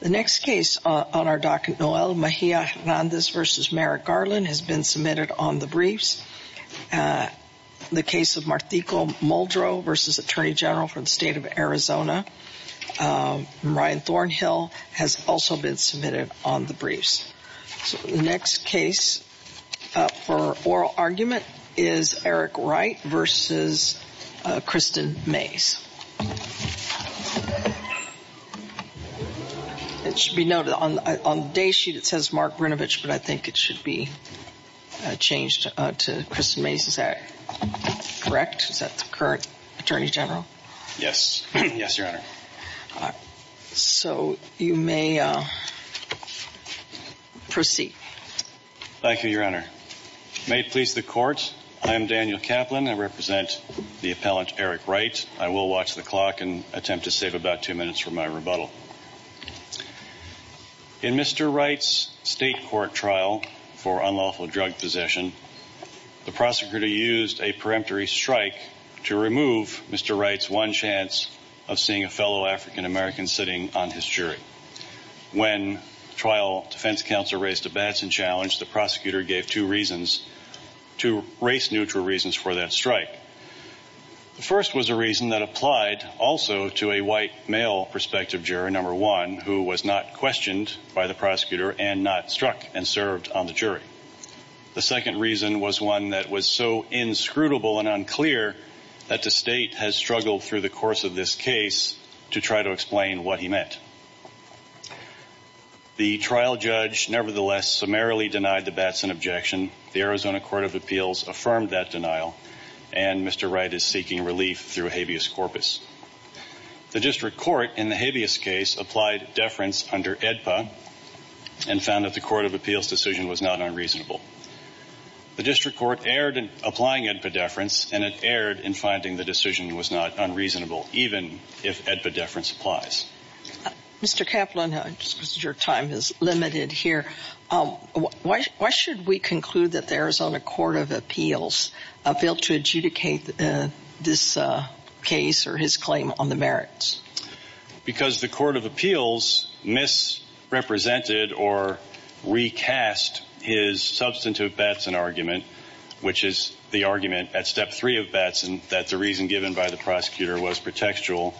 The next case on our docket Noel Mejia Hernandez versus Merrick Garland has been submitted on the briefs The case of Marthico Muldrow versus Attorney General for the state of Arizona Ryan Thornhill has also been submitted on the briefs the next case for oral argument is Eric Wright versus Kristen Mays It should be noted on the day sheet. It says Mark Brnovich, but I think it should be Changed to Kristen Mays. Is that correct? Is that the current Attorney General? Yes. Yes, Your Honor So you may Proceed Thank you, Your Honor May it please the court. I am Daniel Kaplan. I represent the appellant Eric Wright I will watch the clock and attempt to save about two minutes for my rebuttal In Mr. Wright's state court trial for unlawful drug possession The prosecutor used a peremptory strike to remove Mr. Wright's one chance of seeing a fellow African-american sitting on his jury When trial defense counsel raised a batson challenge the prosecutor gave two reasons to race neutral reasons for that strike The first was a reason that applied also to a white male Prospective jury number one who was not questioned by the prosecutor and not struck and served on the jury The second reason was one that was so inscrutable and unclear That the state has struggled through the course of this case to try to explain what he meant The trial judge nevertheless summarily denied the batson objection the Arizona Court of Appeals affirmed that denial and Mr. Wright is seeking relief through habeas corpus The district court in the habeas case applied deference under AEDPA and found that the Court of Appeals decision was not unreasonable The district court erred in applying AEDPA deference and it erred in finding the decision was not unreasonable even if AEDPA deference applies Mr. Kaplan, your time is limited here Why should we conclude that the Arizona Court of Appeals failed to adjudicate this case or his claim on the merits because the Court of Appeals misrepresented or recast his substantive batson argument Which is the argument at step three of batson that the reason given by the prosecutor was pretextual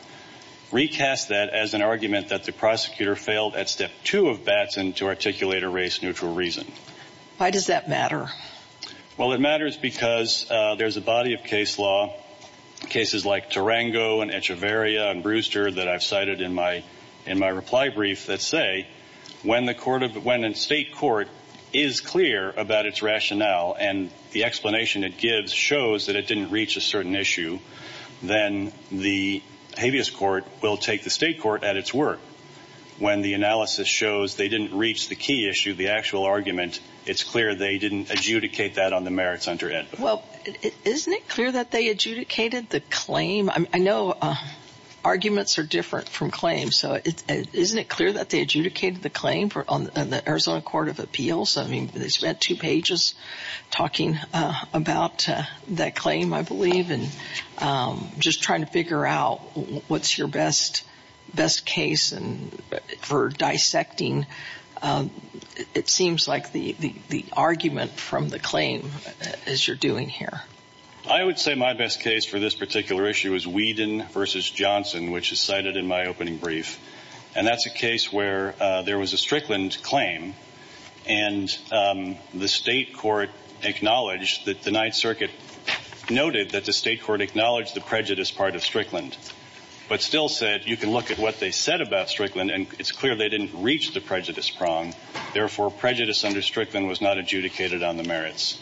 Recast that as an argument that the prosecutor failed at step two of batson to articulate a race-neutral reason. Why does that matter? Well, it matters because there's a body of case law Cases like Tarango and Echeverria and Brewster that I've cited in my in my reply brief that say When the court of when a state court is clear about its rationale and the explanation it gives shows that it didn't reach a certain issue Then the habeas court will take the state court at its work When the analysis shows they didn't reach the key issue the actual argument It's clear. They didn't adjudicate that on the merits under AEDPA. Well, isn't it clear that they adjudicated the claim? I know Arguments are different from claims. So it isn't it clear that they adjudicated the claim for on the Arizona Court of Appeals? I mean they spent two pages Talking about that claim I believe and Just trying to figure out what's your best best case and for dissecting It seems like the the argument from the claim as you're doing here I would say my best case for this particular issue is Whedon versus Johnson which is cited in my opening brief, and that's a case where there was a Strickland claim and the state court acknowledged that the Ninth Circuit Noted that the state court acknowledged the prejudice part of Strickland But still said you can look at what they said about Strickland and it's clear. They didn't reach the prejudice prong Therefore prejudice under Strickland was not adjudicated on the merits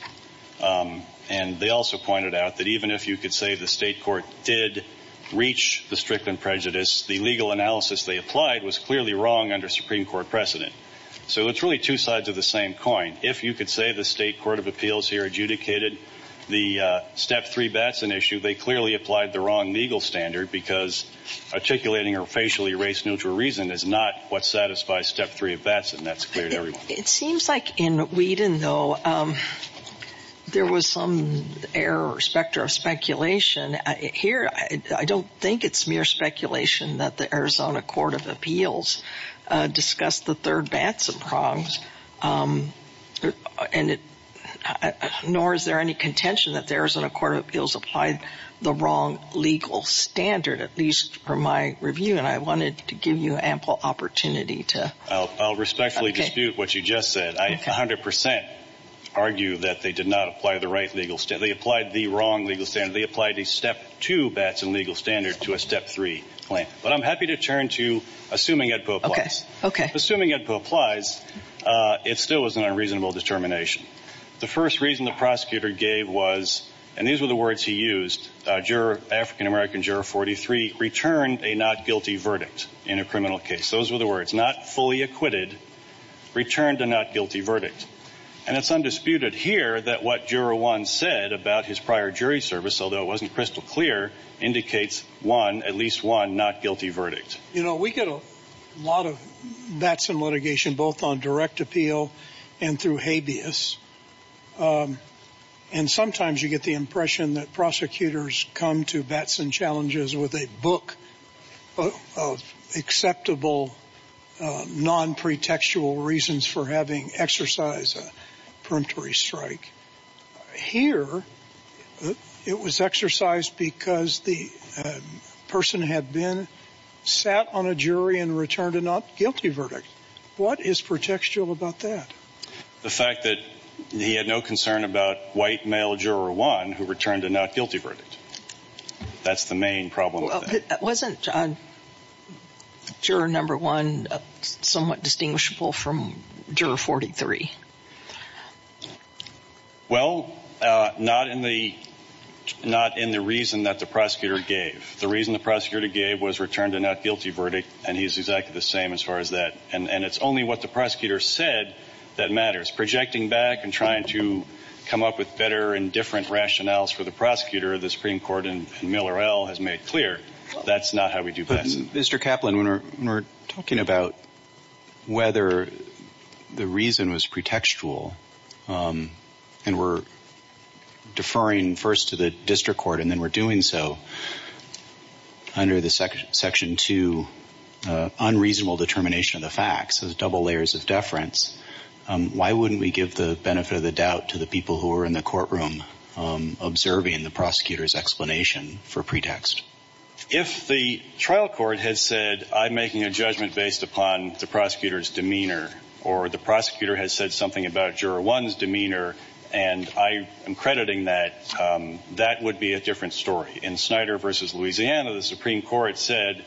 And they also pointed out that even if you could say the state court did Reach the Strickland prejudice the legal analysis they applied was clearly wrong under Supreme Court precedent So it's really two sides of the same coin if you could say the state court of appeals here adjudicated the step three Batson issue they clearly applied the wrong legal standard because Articulating or facially race neutral reason is not what satisfies step three of Batson. That's clear to everyone. It seems like in Whedon though There was some error or specter of speculation Here, I don't think it's mere speculation that the Arizona Court of Appeals Discussed the third Batson prongs And it Nor is there any contention that there isn't a court of appeals applied the wrong legal standard at least for my review And I wanted to give you ample opportunity to I'll respectfully dispute what you just said I 100% Argue that they did not apply the right legal step. They applied the wrong legal standard They applied a step two Batson legal standard to a step three claim But I'm happy to turn to assuming it book. Okay, assuming it applies It still was an unreasonable determination The first reason the prosecutor gave was and these were the words he used Juror African American juror 43 returned a not guilty verdict in a criminal case. Those were the words not fully acquitted Returned to not guilty verdict and it's undisputed here that what juror one said about his prior jury service Although it wasn't crystal clear Indicates one at least one not guilty verdict, you know We get a lot of Batson litigation both on direct appeal and through habeas and sometimes you get the impression that prosecutors come to Batson challenges with a book of acceptable Non-pretextual reasons for having exercise a preemptory strike here It was exercised because the Person had been Sat on a jury and returned a not guilty verdict. What is pretextual about that? The fact that he had no concern about white male juror one who returned a not guilty verdict That's the main problem. That wasn't Sure number one somewhat distinguishable from juror 43 Well not in the not in the reason that the prosecutor gave the reason the prosecutor gave was returned a not guilty verdict and he's exactly the same as Far as that and and it's only what the prosecutor said that matters projecting back and trying to Come up with better and different rationales for the prosecutor. The Supreme Court and Miller L has made clear. That's not how we do But mr. Kaplan when we're talking about whether the reason was preemptive pretextual and we're Deferring first to the district court and then we're doing so under the second section to Unreasonable determination of the facts as double layers of deference Why wouldn't we give the benefit of the doubt to the people who are in the courtroom? observing the prosecutors explanation for pretext if the trial court has said I'm making a judgment based upon the prosecutors demeanor or the prosecutor has said something about juror one's demeanor and I am crediting that That would be a different story in Snyder versus, Louisiana. The Supreme Court said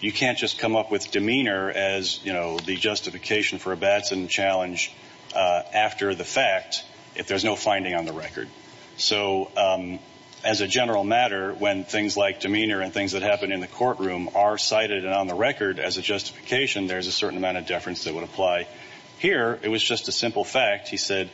You can't just come up with demeanor as you know, the justification for a Batson challenge after the fact if there's no finding on the record, so As a general matter when things like demeanor and things that happen in the courtroom are cited and on the record as a Justification there's a certain amount of deference that would apply here. It was just a simple fact. He said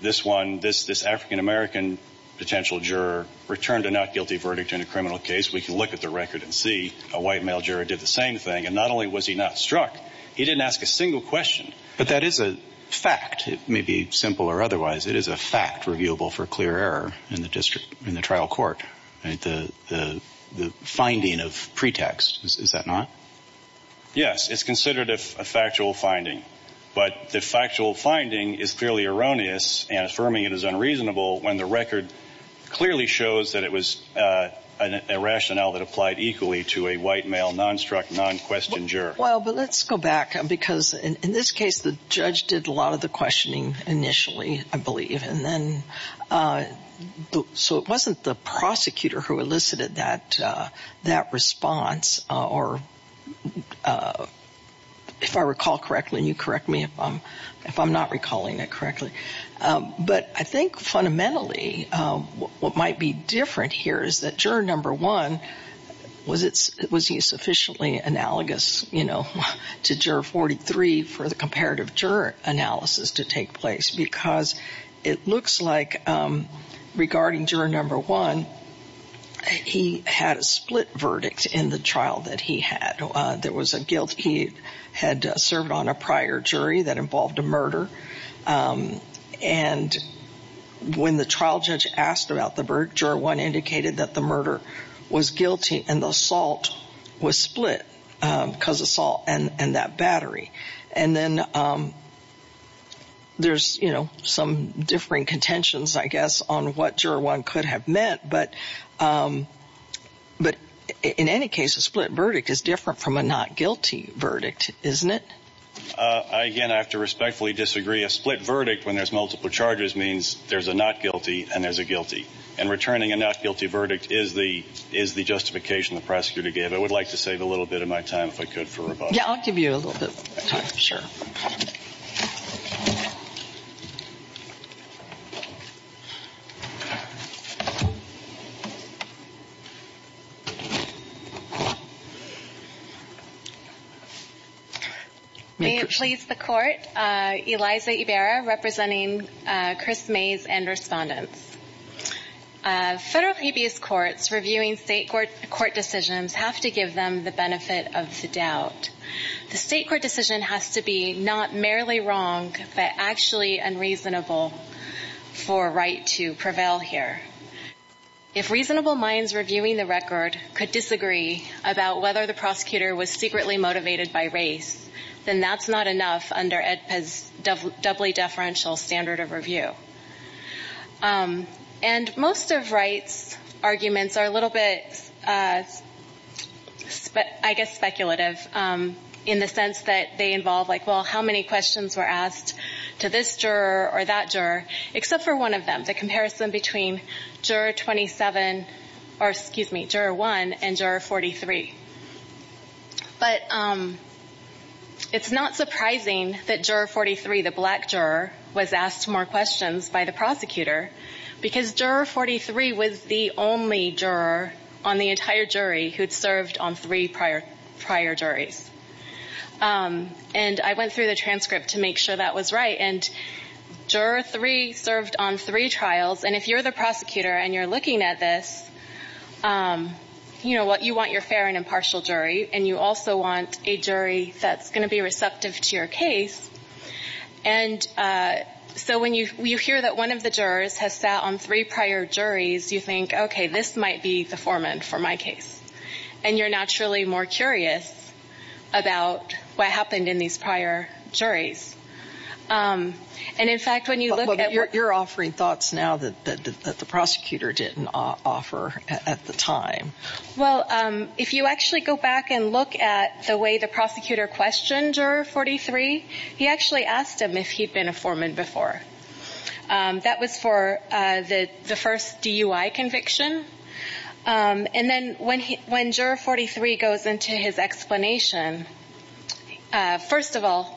This one this this african-american Potential juror returned a not guilty verdict in a criminal case We can look at the record and see a white male juror did the same thing and not only was he not struck He didn't ask a single question, but that is a fact. It may be simple or otherwise it is a fact reviewable for clear error in the district in the trial court and the Finding of pretext. Is that not? Yes, it's considered a factual finding but the factual finding is clearly erroneous and affirming it is unreasonable when the record clearly shows that it was a Rationale that applied equally to a white male non-struck non-questioned juror Well, but let's go back because in this case the judge did a lot of the questioning initially I believe and then So it wasn't the prosecutor who elicited that that response or If I recall correctly and you correct me if I'm if I'm not recalling it correctly But I think fundamentally What might be different here is that juror number one? Was it was he sufficiently analogous, you know to juror 43 for the comparative juror analysis to take place because it looks like regarding juror number one He had a split verdict in the trial that he had there was a guilt He had served on a prior jury that involved a murder and When the trial judge asked about the bird juror one indicated that the murder was guilty and the assault was split because assault and and that battery and then There's you know some differing contentions I guess on what juror one could have meant but But in any case a split verdict is different from a not guilty verdict, isn't it? Again I have to respectfully disagree a split verdict when there's multiple charges means there's a not guilty and there's a guilty and Returning a not guilty verdict is the is the justification the prosecutor gave I would like to save a little bit of my time if I could for a vote. Yeah, I'll give you a little bit sure I Please the court Eliza Ibarra representing Chris Mays and respondents Federal habeas courts reviewing state court court decisions have to give them the benefit of the doubt The state court decision has to be not merely wrong, but actually unreasonable for right to prevail here If reasonable minds reviewing the record could disagree about whether the prosecutor was secretly motivated by race Then that's not enough under Ed has doubly deferential standard of review And most of Wright's arguments are a little bit But I guess speculative In the sense that they involve like well how many questions were asked to this juror or that juror? except for one of them the comparison between juror 27 or excuse me juror 1 and juror 43 but It's not surprising that juror 43 the black juror was asked more questions by the prosecutor Because juror 43 was the only juror on the entire jury who had served on three prior prior juries and I went through the transcript to make sure that was right and Juror three served on three trials, and if you're the prosecutor and you're looking at this You know what you want your fair and impartial jury, and you also want a jury that's going to be receptive to your case and So when you you hear that one of the jurors has sat on three prior juries you think okay This might be the foreman for my case, and you're naturally more curious About what happened in these prior juries? And in fact when you look at what you're offering thoughts now that the prosecutor didn't offer at the time Well if you actually go back and look at the way the prosecutor questioned or 43 He actually asked him if he'd been a foreman before That was for the the first DUI conviction And then when he when juror 43 goes into his explanation First of all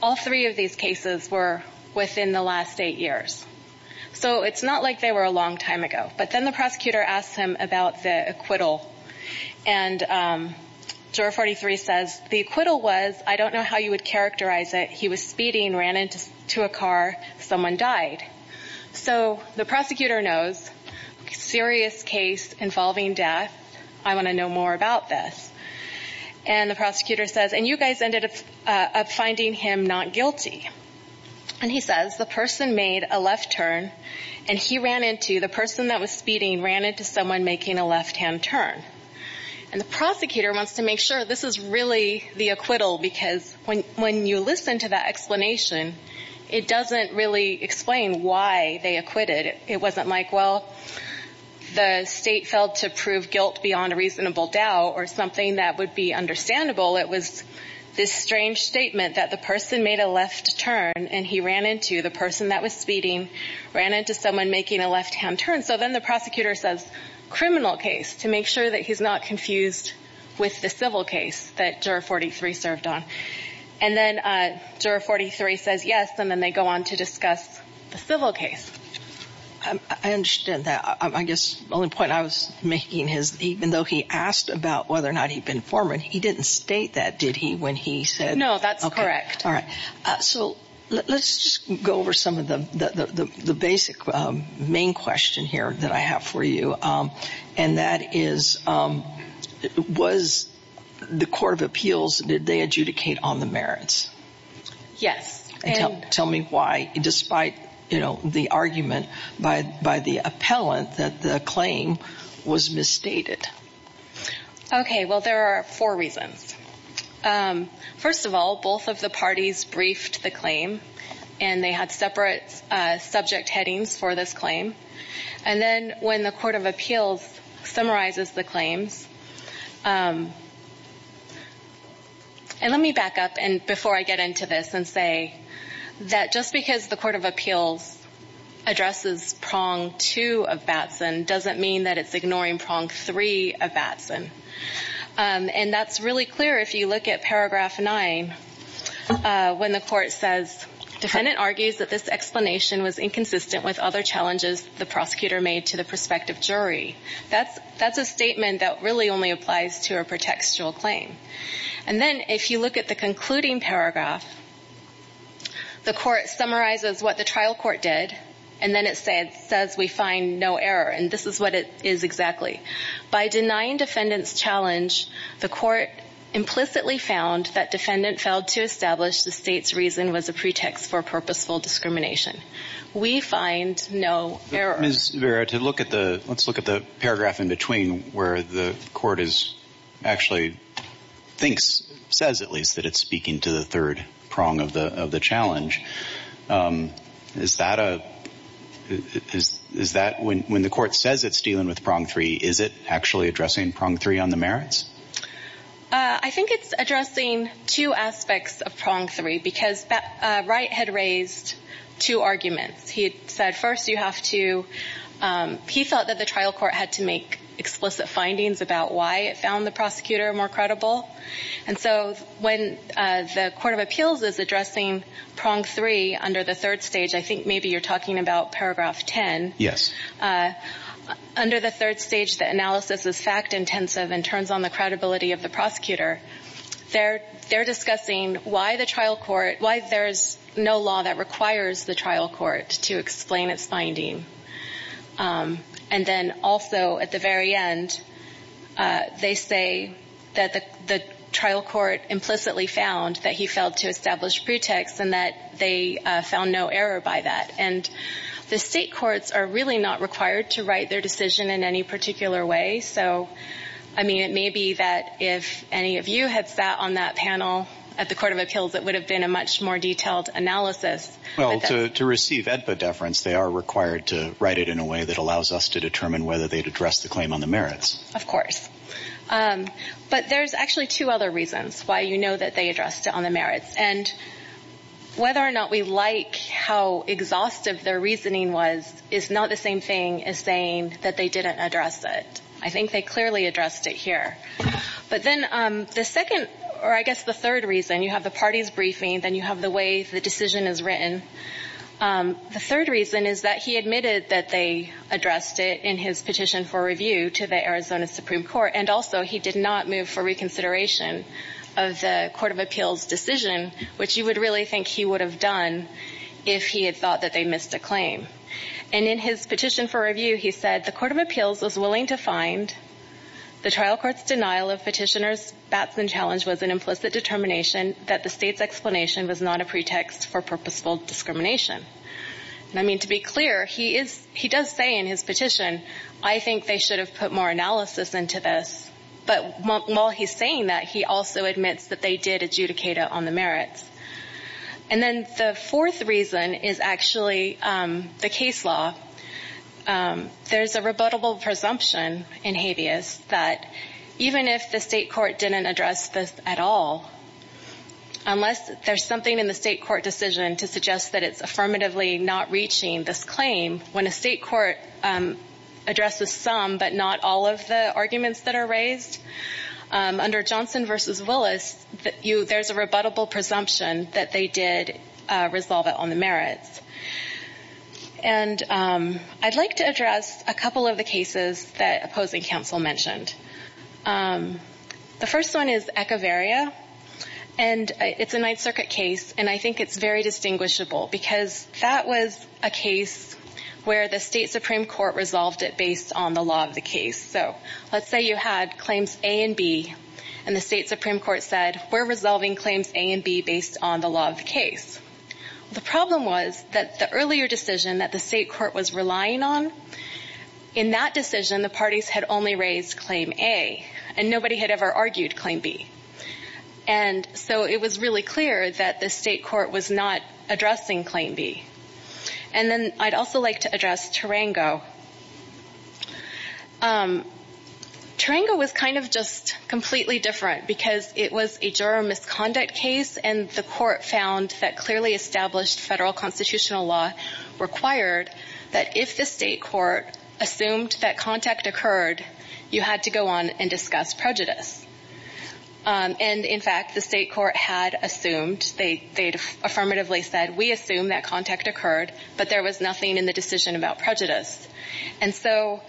all three of these cases were within the last eight years so it's not like they were a long time ago, but then the prosecutor asked him about the acquittal and Juror 43 says the acquittal was I don't know how you would characterize it. He was speeding ran into a car someone died So the prosecutor knows Serious case involving death. I want to know more about this and The prosecutor says and you guys ended up finding him not guilty And he says the person made a left turn and he ran into the person that was speeding ran into someone making a left-hand turn And the prosecutor wants to make sure this is really the acquittal because when when you listen to that explanation It doesn't really explain why they acquitted it wasn't like well The state failed to prove guilt beyond a reasonable doubt or something. That would be understandable It was this strange statement that the person made a left turn and he ran into the person that was speeding ran into someone making a left-hand turn so then the prosecutor says Criminal case to make sure that he's not confused with the civil case that juror 43 served on and then Juror 43 says yes, and then they go on to discuss the civil case. I Understand that I guess the only point I was making his even though he asked about whether or not he'd been foreman He didn't state that did he when he said no, that's correct. All right So let's just go over some of them the the basic main question here that I have for you and that is Was The Court of Appeals did they adjudicate on the merits? Yes, and tell me why despite you know the argument by by the appellant that the claim was misstated Okay, well there are four reasons First of all both of the parties briefed the claim and they had separate Subject headings for this claim and then when the Court of Appeals summarizes the claims And let me back up and before I get into this and say that just because the Court of Appeals Addresses prong two of Batson doesn't mean that it's ignoring prong three of Batson And that's really clear if you look at paragraph nine When the court says Defendant argues that this explanation was inconsistent with other challenges the prosecutor made to the prospective jury That's that's a statement that really only applies to a pretextual claim and then if you look at the concluding paragraph The court summarizes what the trial court did and then it said says we find no error And this is what it is exactly by denying defendants challenge the court Implicitly found that defendant failed to establish the state's reason was a pretext for purposeful discrimination We find no error. Ms. Vera to look at the let's look at the paragraph in between where the court is actually Thinks says at least that it's speaking to the third prong of the of the challenge Is that a? Is that when when the court says it's dealing with prong three is it actually addressing prong three on the merits? I Think it's addressing two aspects of prong three because that right had raised two arguments he said first you have to He thought that the trial court had to make explicit findings about why it found the prosecutor more credible And so when the Court of Appeals is addressing prong three under the third stage I think maybe you're talking about paragraph ten yes Under the third stage that analysis is fact-intensive and turns on the credibility of the prosecutor They're they're discussing why the trial court why there's no law that requires the trial court to explain its finding And then also at the very end they say that the the trial court implicitly found that he failed to establish pretext and that they Found no error by that and the state courts are really not required to write their decision in any particular way So I mean it may be that if any of you had sat on that panel at the Court of Appeals It would have been a much more detailed analysis well to receive EDPA deference They are required to write it in a way that allows us to determine whether they'd address the claim on the merits of course but there's actually two other reasons why you know that they addressed it on the merits and Whether or not we like how Exhaustive their reasoning was is not the same thing as saying that they didn't address it. I think they clearly addressed it here But then the second or I guess the third reason you have the parties briefing then you have the way the decision is written The third reason is that he admitted that they addressed it in his petition for review to the Arizona Supreme Court And also he did not move for reconsideration of the Court of Appeals decision Which you would really think he would have done if he had thought that they missed a claim and in his petition for review He said the Court of Appeals was willing to find The trial courts denial of petitioners Batson challenge was an implicit determination that the state's explanation was not a pretext for purposeful Discrimination and I mean to be clear he is he does say in his petition I think they should have put more analysis into this But while he's saying that he also admits that they did adjudicate it on the merits and Then the fourth reason is actually the case law There's a rebuttable presumption in habeas that even if the state court didn't address this at all Unless there's something in the state court decision to suggest that it's affirmatively not reaching this claim when a state court Addresses some but not all of the arguments that are raised Under Johnson versus Willis that you there's a rebuttable presumption that they did resolve it on the merits and I'd like to address a couple of the cases that opposing counsel mentioned The first one is echeverria and It's a Ninth Circuit case, and I think it's very distinguishable because that was a case Where the state supreme court resolved it based on the law of the case So let's say you had claims a and B and the state supreme court said we're resolving claims a and B based on the law of the case The problem was that the earlier decision that the state court was relying on in that decision the parties had only raised claim a and nobody had ever argued claim B and So it was really clear that the state court was not addressing claim B And then I'd also like to address Tarango Tarango was kind of just completely different because it was a juror misconduct case and the court found that clearly established federal constitutional law Required that if the state court assumed that contact occurred you had to go on and discuss prejudice And in fact the state court had assumed they they'd affirmatively said we assume that contact occurred but there was nothing in the decision about prejudice and so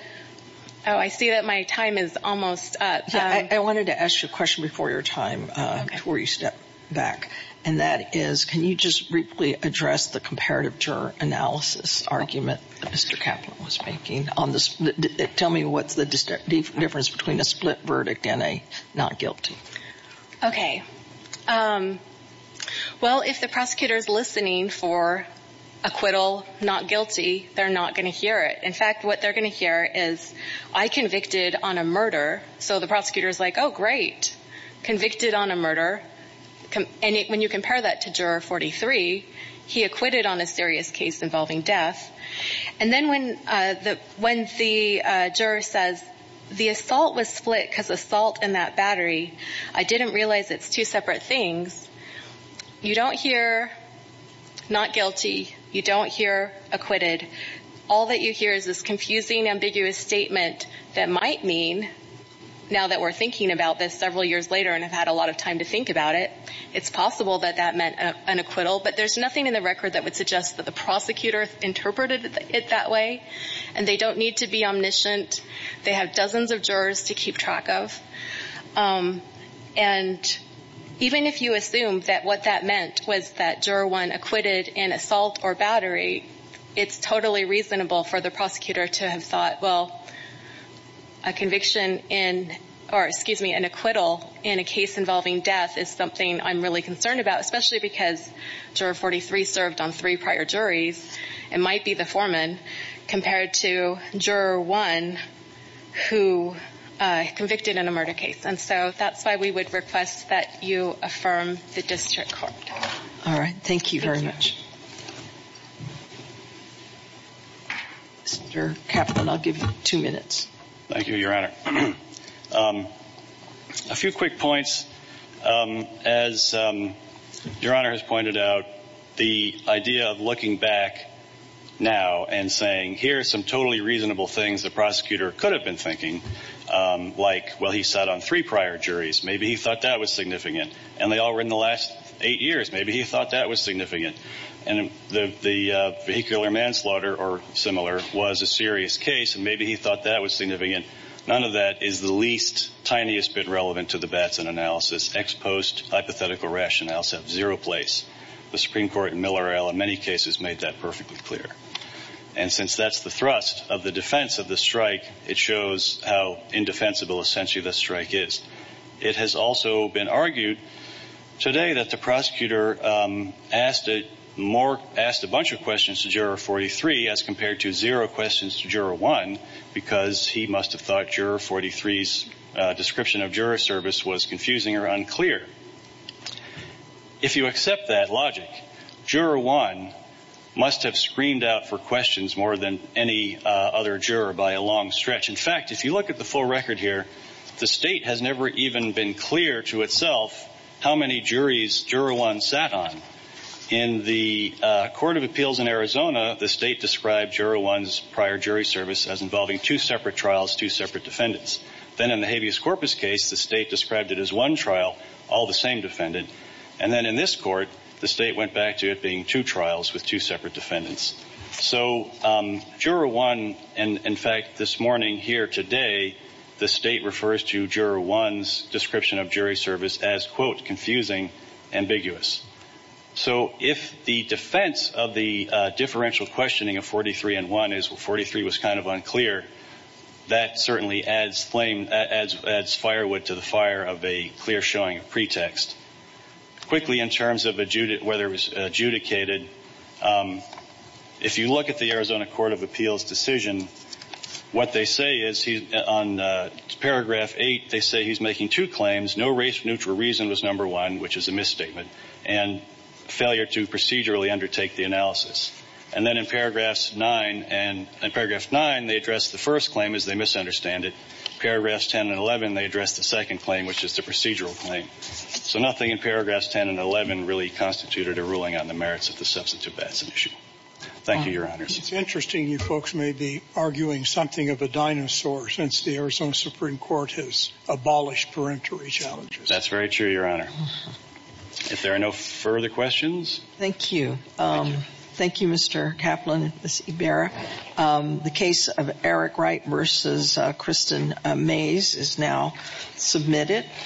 I See that my time is almost up. I wanted to ask you a question before your time Before you step back and that is can you just briefly address the comparative juror analysis argument? Mr. Kaplan was making on this. Tell me what's the difference between a split verdict and a not guilty Okay Well if the prosecutor is listening for Acquittal not guilty. They're not gonna hear it. In fact, what they're gonna hear is I convicted on a murder So the prosecutor is like, oh great convicted on a murder Come and when you compare that to juror 43 He acquitted on a serious case involving death and then when the when the Juror says the assault was split because assault in that battery. I didn't realize it's two separate things You don't hear Not guilty. You don't hear acquitted. All that you hear is this confusing ambiguous statement that might mean Now that we're thinking about this several years later and I've had a lot of time to think about it It's possible that that meant an acquittal but there's nothing in the record that would suggest that the prosecutor Interpreted it that way and they don't need to be omniscient. They have dozens of jurors to keep track of and Even if you assume that what that meant was that juror one acquitted in assault or battery it's totally reasonable for the prosecutor to have thought well a Concerned about especially because juror 43 served on three prior juries. It might be the foreman compared to juror one who Convicted in a murder case. And so that's why we would request that you affirm the district court. All right. Thank you very much Mr. Kaplan, I'll give you two minutes. Thank you your honor a few quick points as Your honor has pointed out the idea of looking back Now and saying here are some totally reasonable things. The prosecutor could have been thinking Like well, he sat on three prior juries. Maybe he thought that was significant and they all were in the last eight years maybe he thought that was significant and the Vehicular manslaughter or similar was a serious case and maybe he thought that was significant None of that is the least tiniest bit relevant to the Batson analysis ex post hypothetical rationales have zero place the Supreme Court in Miller L in many cases made that perfectly clear and Since that's the thrust of the defense of the strike. It shows how indefensible essentially the strike is it has also been argued today that the prosecutor Asked it more asked a bunch of questions to juror 43 as compared to zero questions to juror one Because he must have thought juror 43's description of juror service was confusing or unclear If you accept that logic juror one Must have screamed out for questions more than any other juror by a long stretch In fact, if you look at the full record here, the state has never even been clear to itself How many juries juror one sat on in the Court of Appeals in Arizona? The state described juror one's prior jury service as involving two separate trials two separate defendants Then in the habeas corpus case the state described it as one trial all the same Defended and then in this court the state went back to it being two trials with two separate defendants. So Juror one and in fact this morning here today The state refers to juror one's description of jury service as quote confusing ambiguous So if the defense of the differential questioning of 43 and one is well 43 was kind of unclear That certainly adds flame as adds firewood to the fire of a clear showing of pretext quickly in terms of a Judith whether it was adjudicated If you look at the Arizona Court of Appeals decision What they say is he's on Paragraph 8 they say he's making two claims. No race neutral reason was number one, which is a misstatement and Failure to procedurally undertake the analysis and then in paragraphs 9 and in paragraph 9 They addressed the first claim as they misunderstand it paragraphs 10 and 11. They addressed the second claim, which is the procedural claim So nothing in paragraphs 10 and 11 really constituted a ruling on the merits of the substantive. That's an issue. Thank you It's interesting you folks may be arguing something of a dinosaur since the Arizona Supreme Court has abolished Parentary challenges, that's very true. Your honor If there are no further questions, thank you Thank You. Mr. Kaplan, Miss Ibarra the case of Eric Wright versus Kristen Mays is now submitted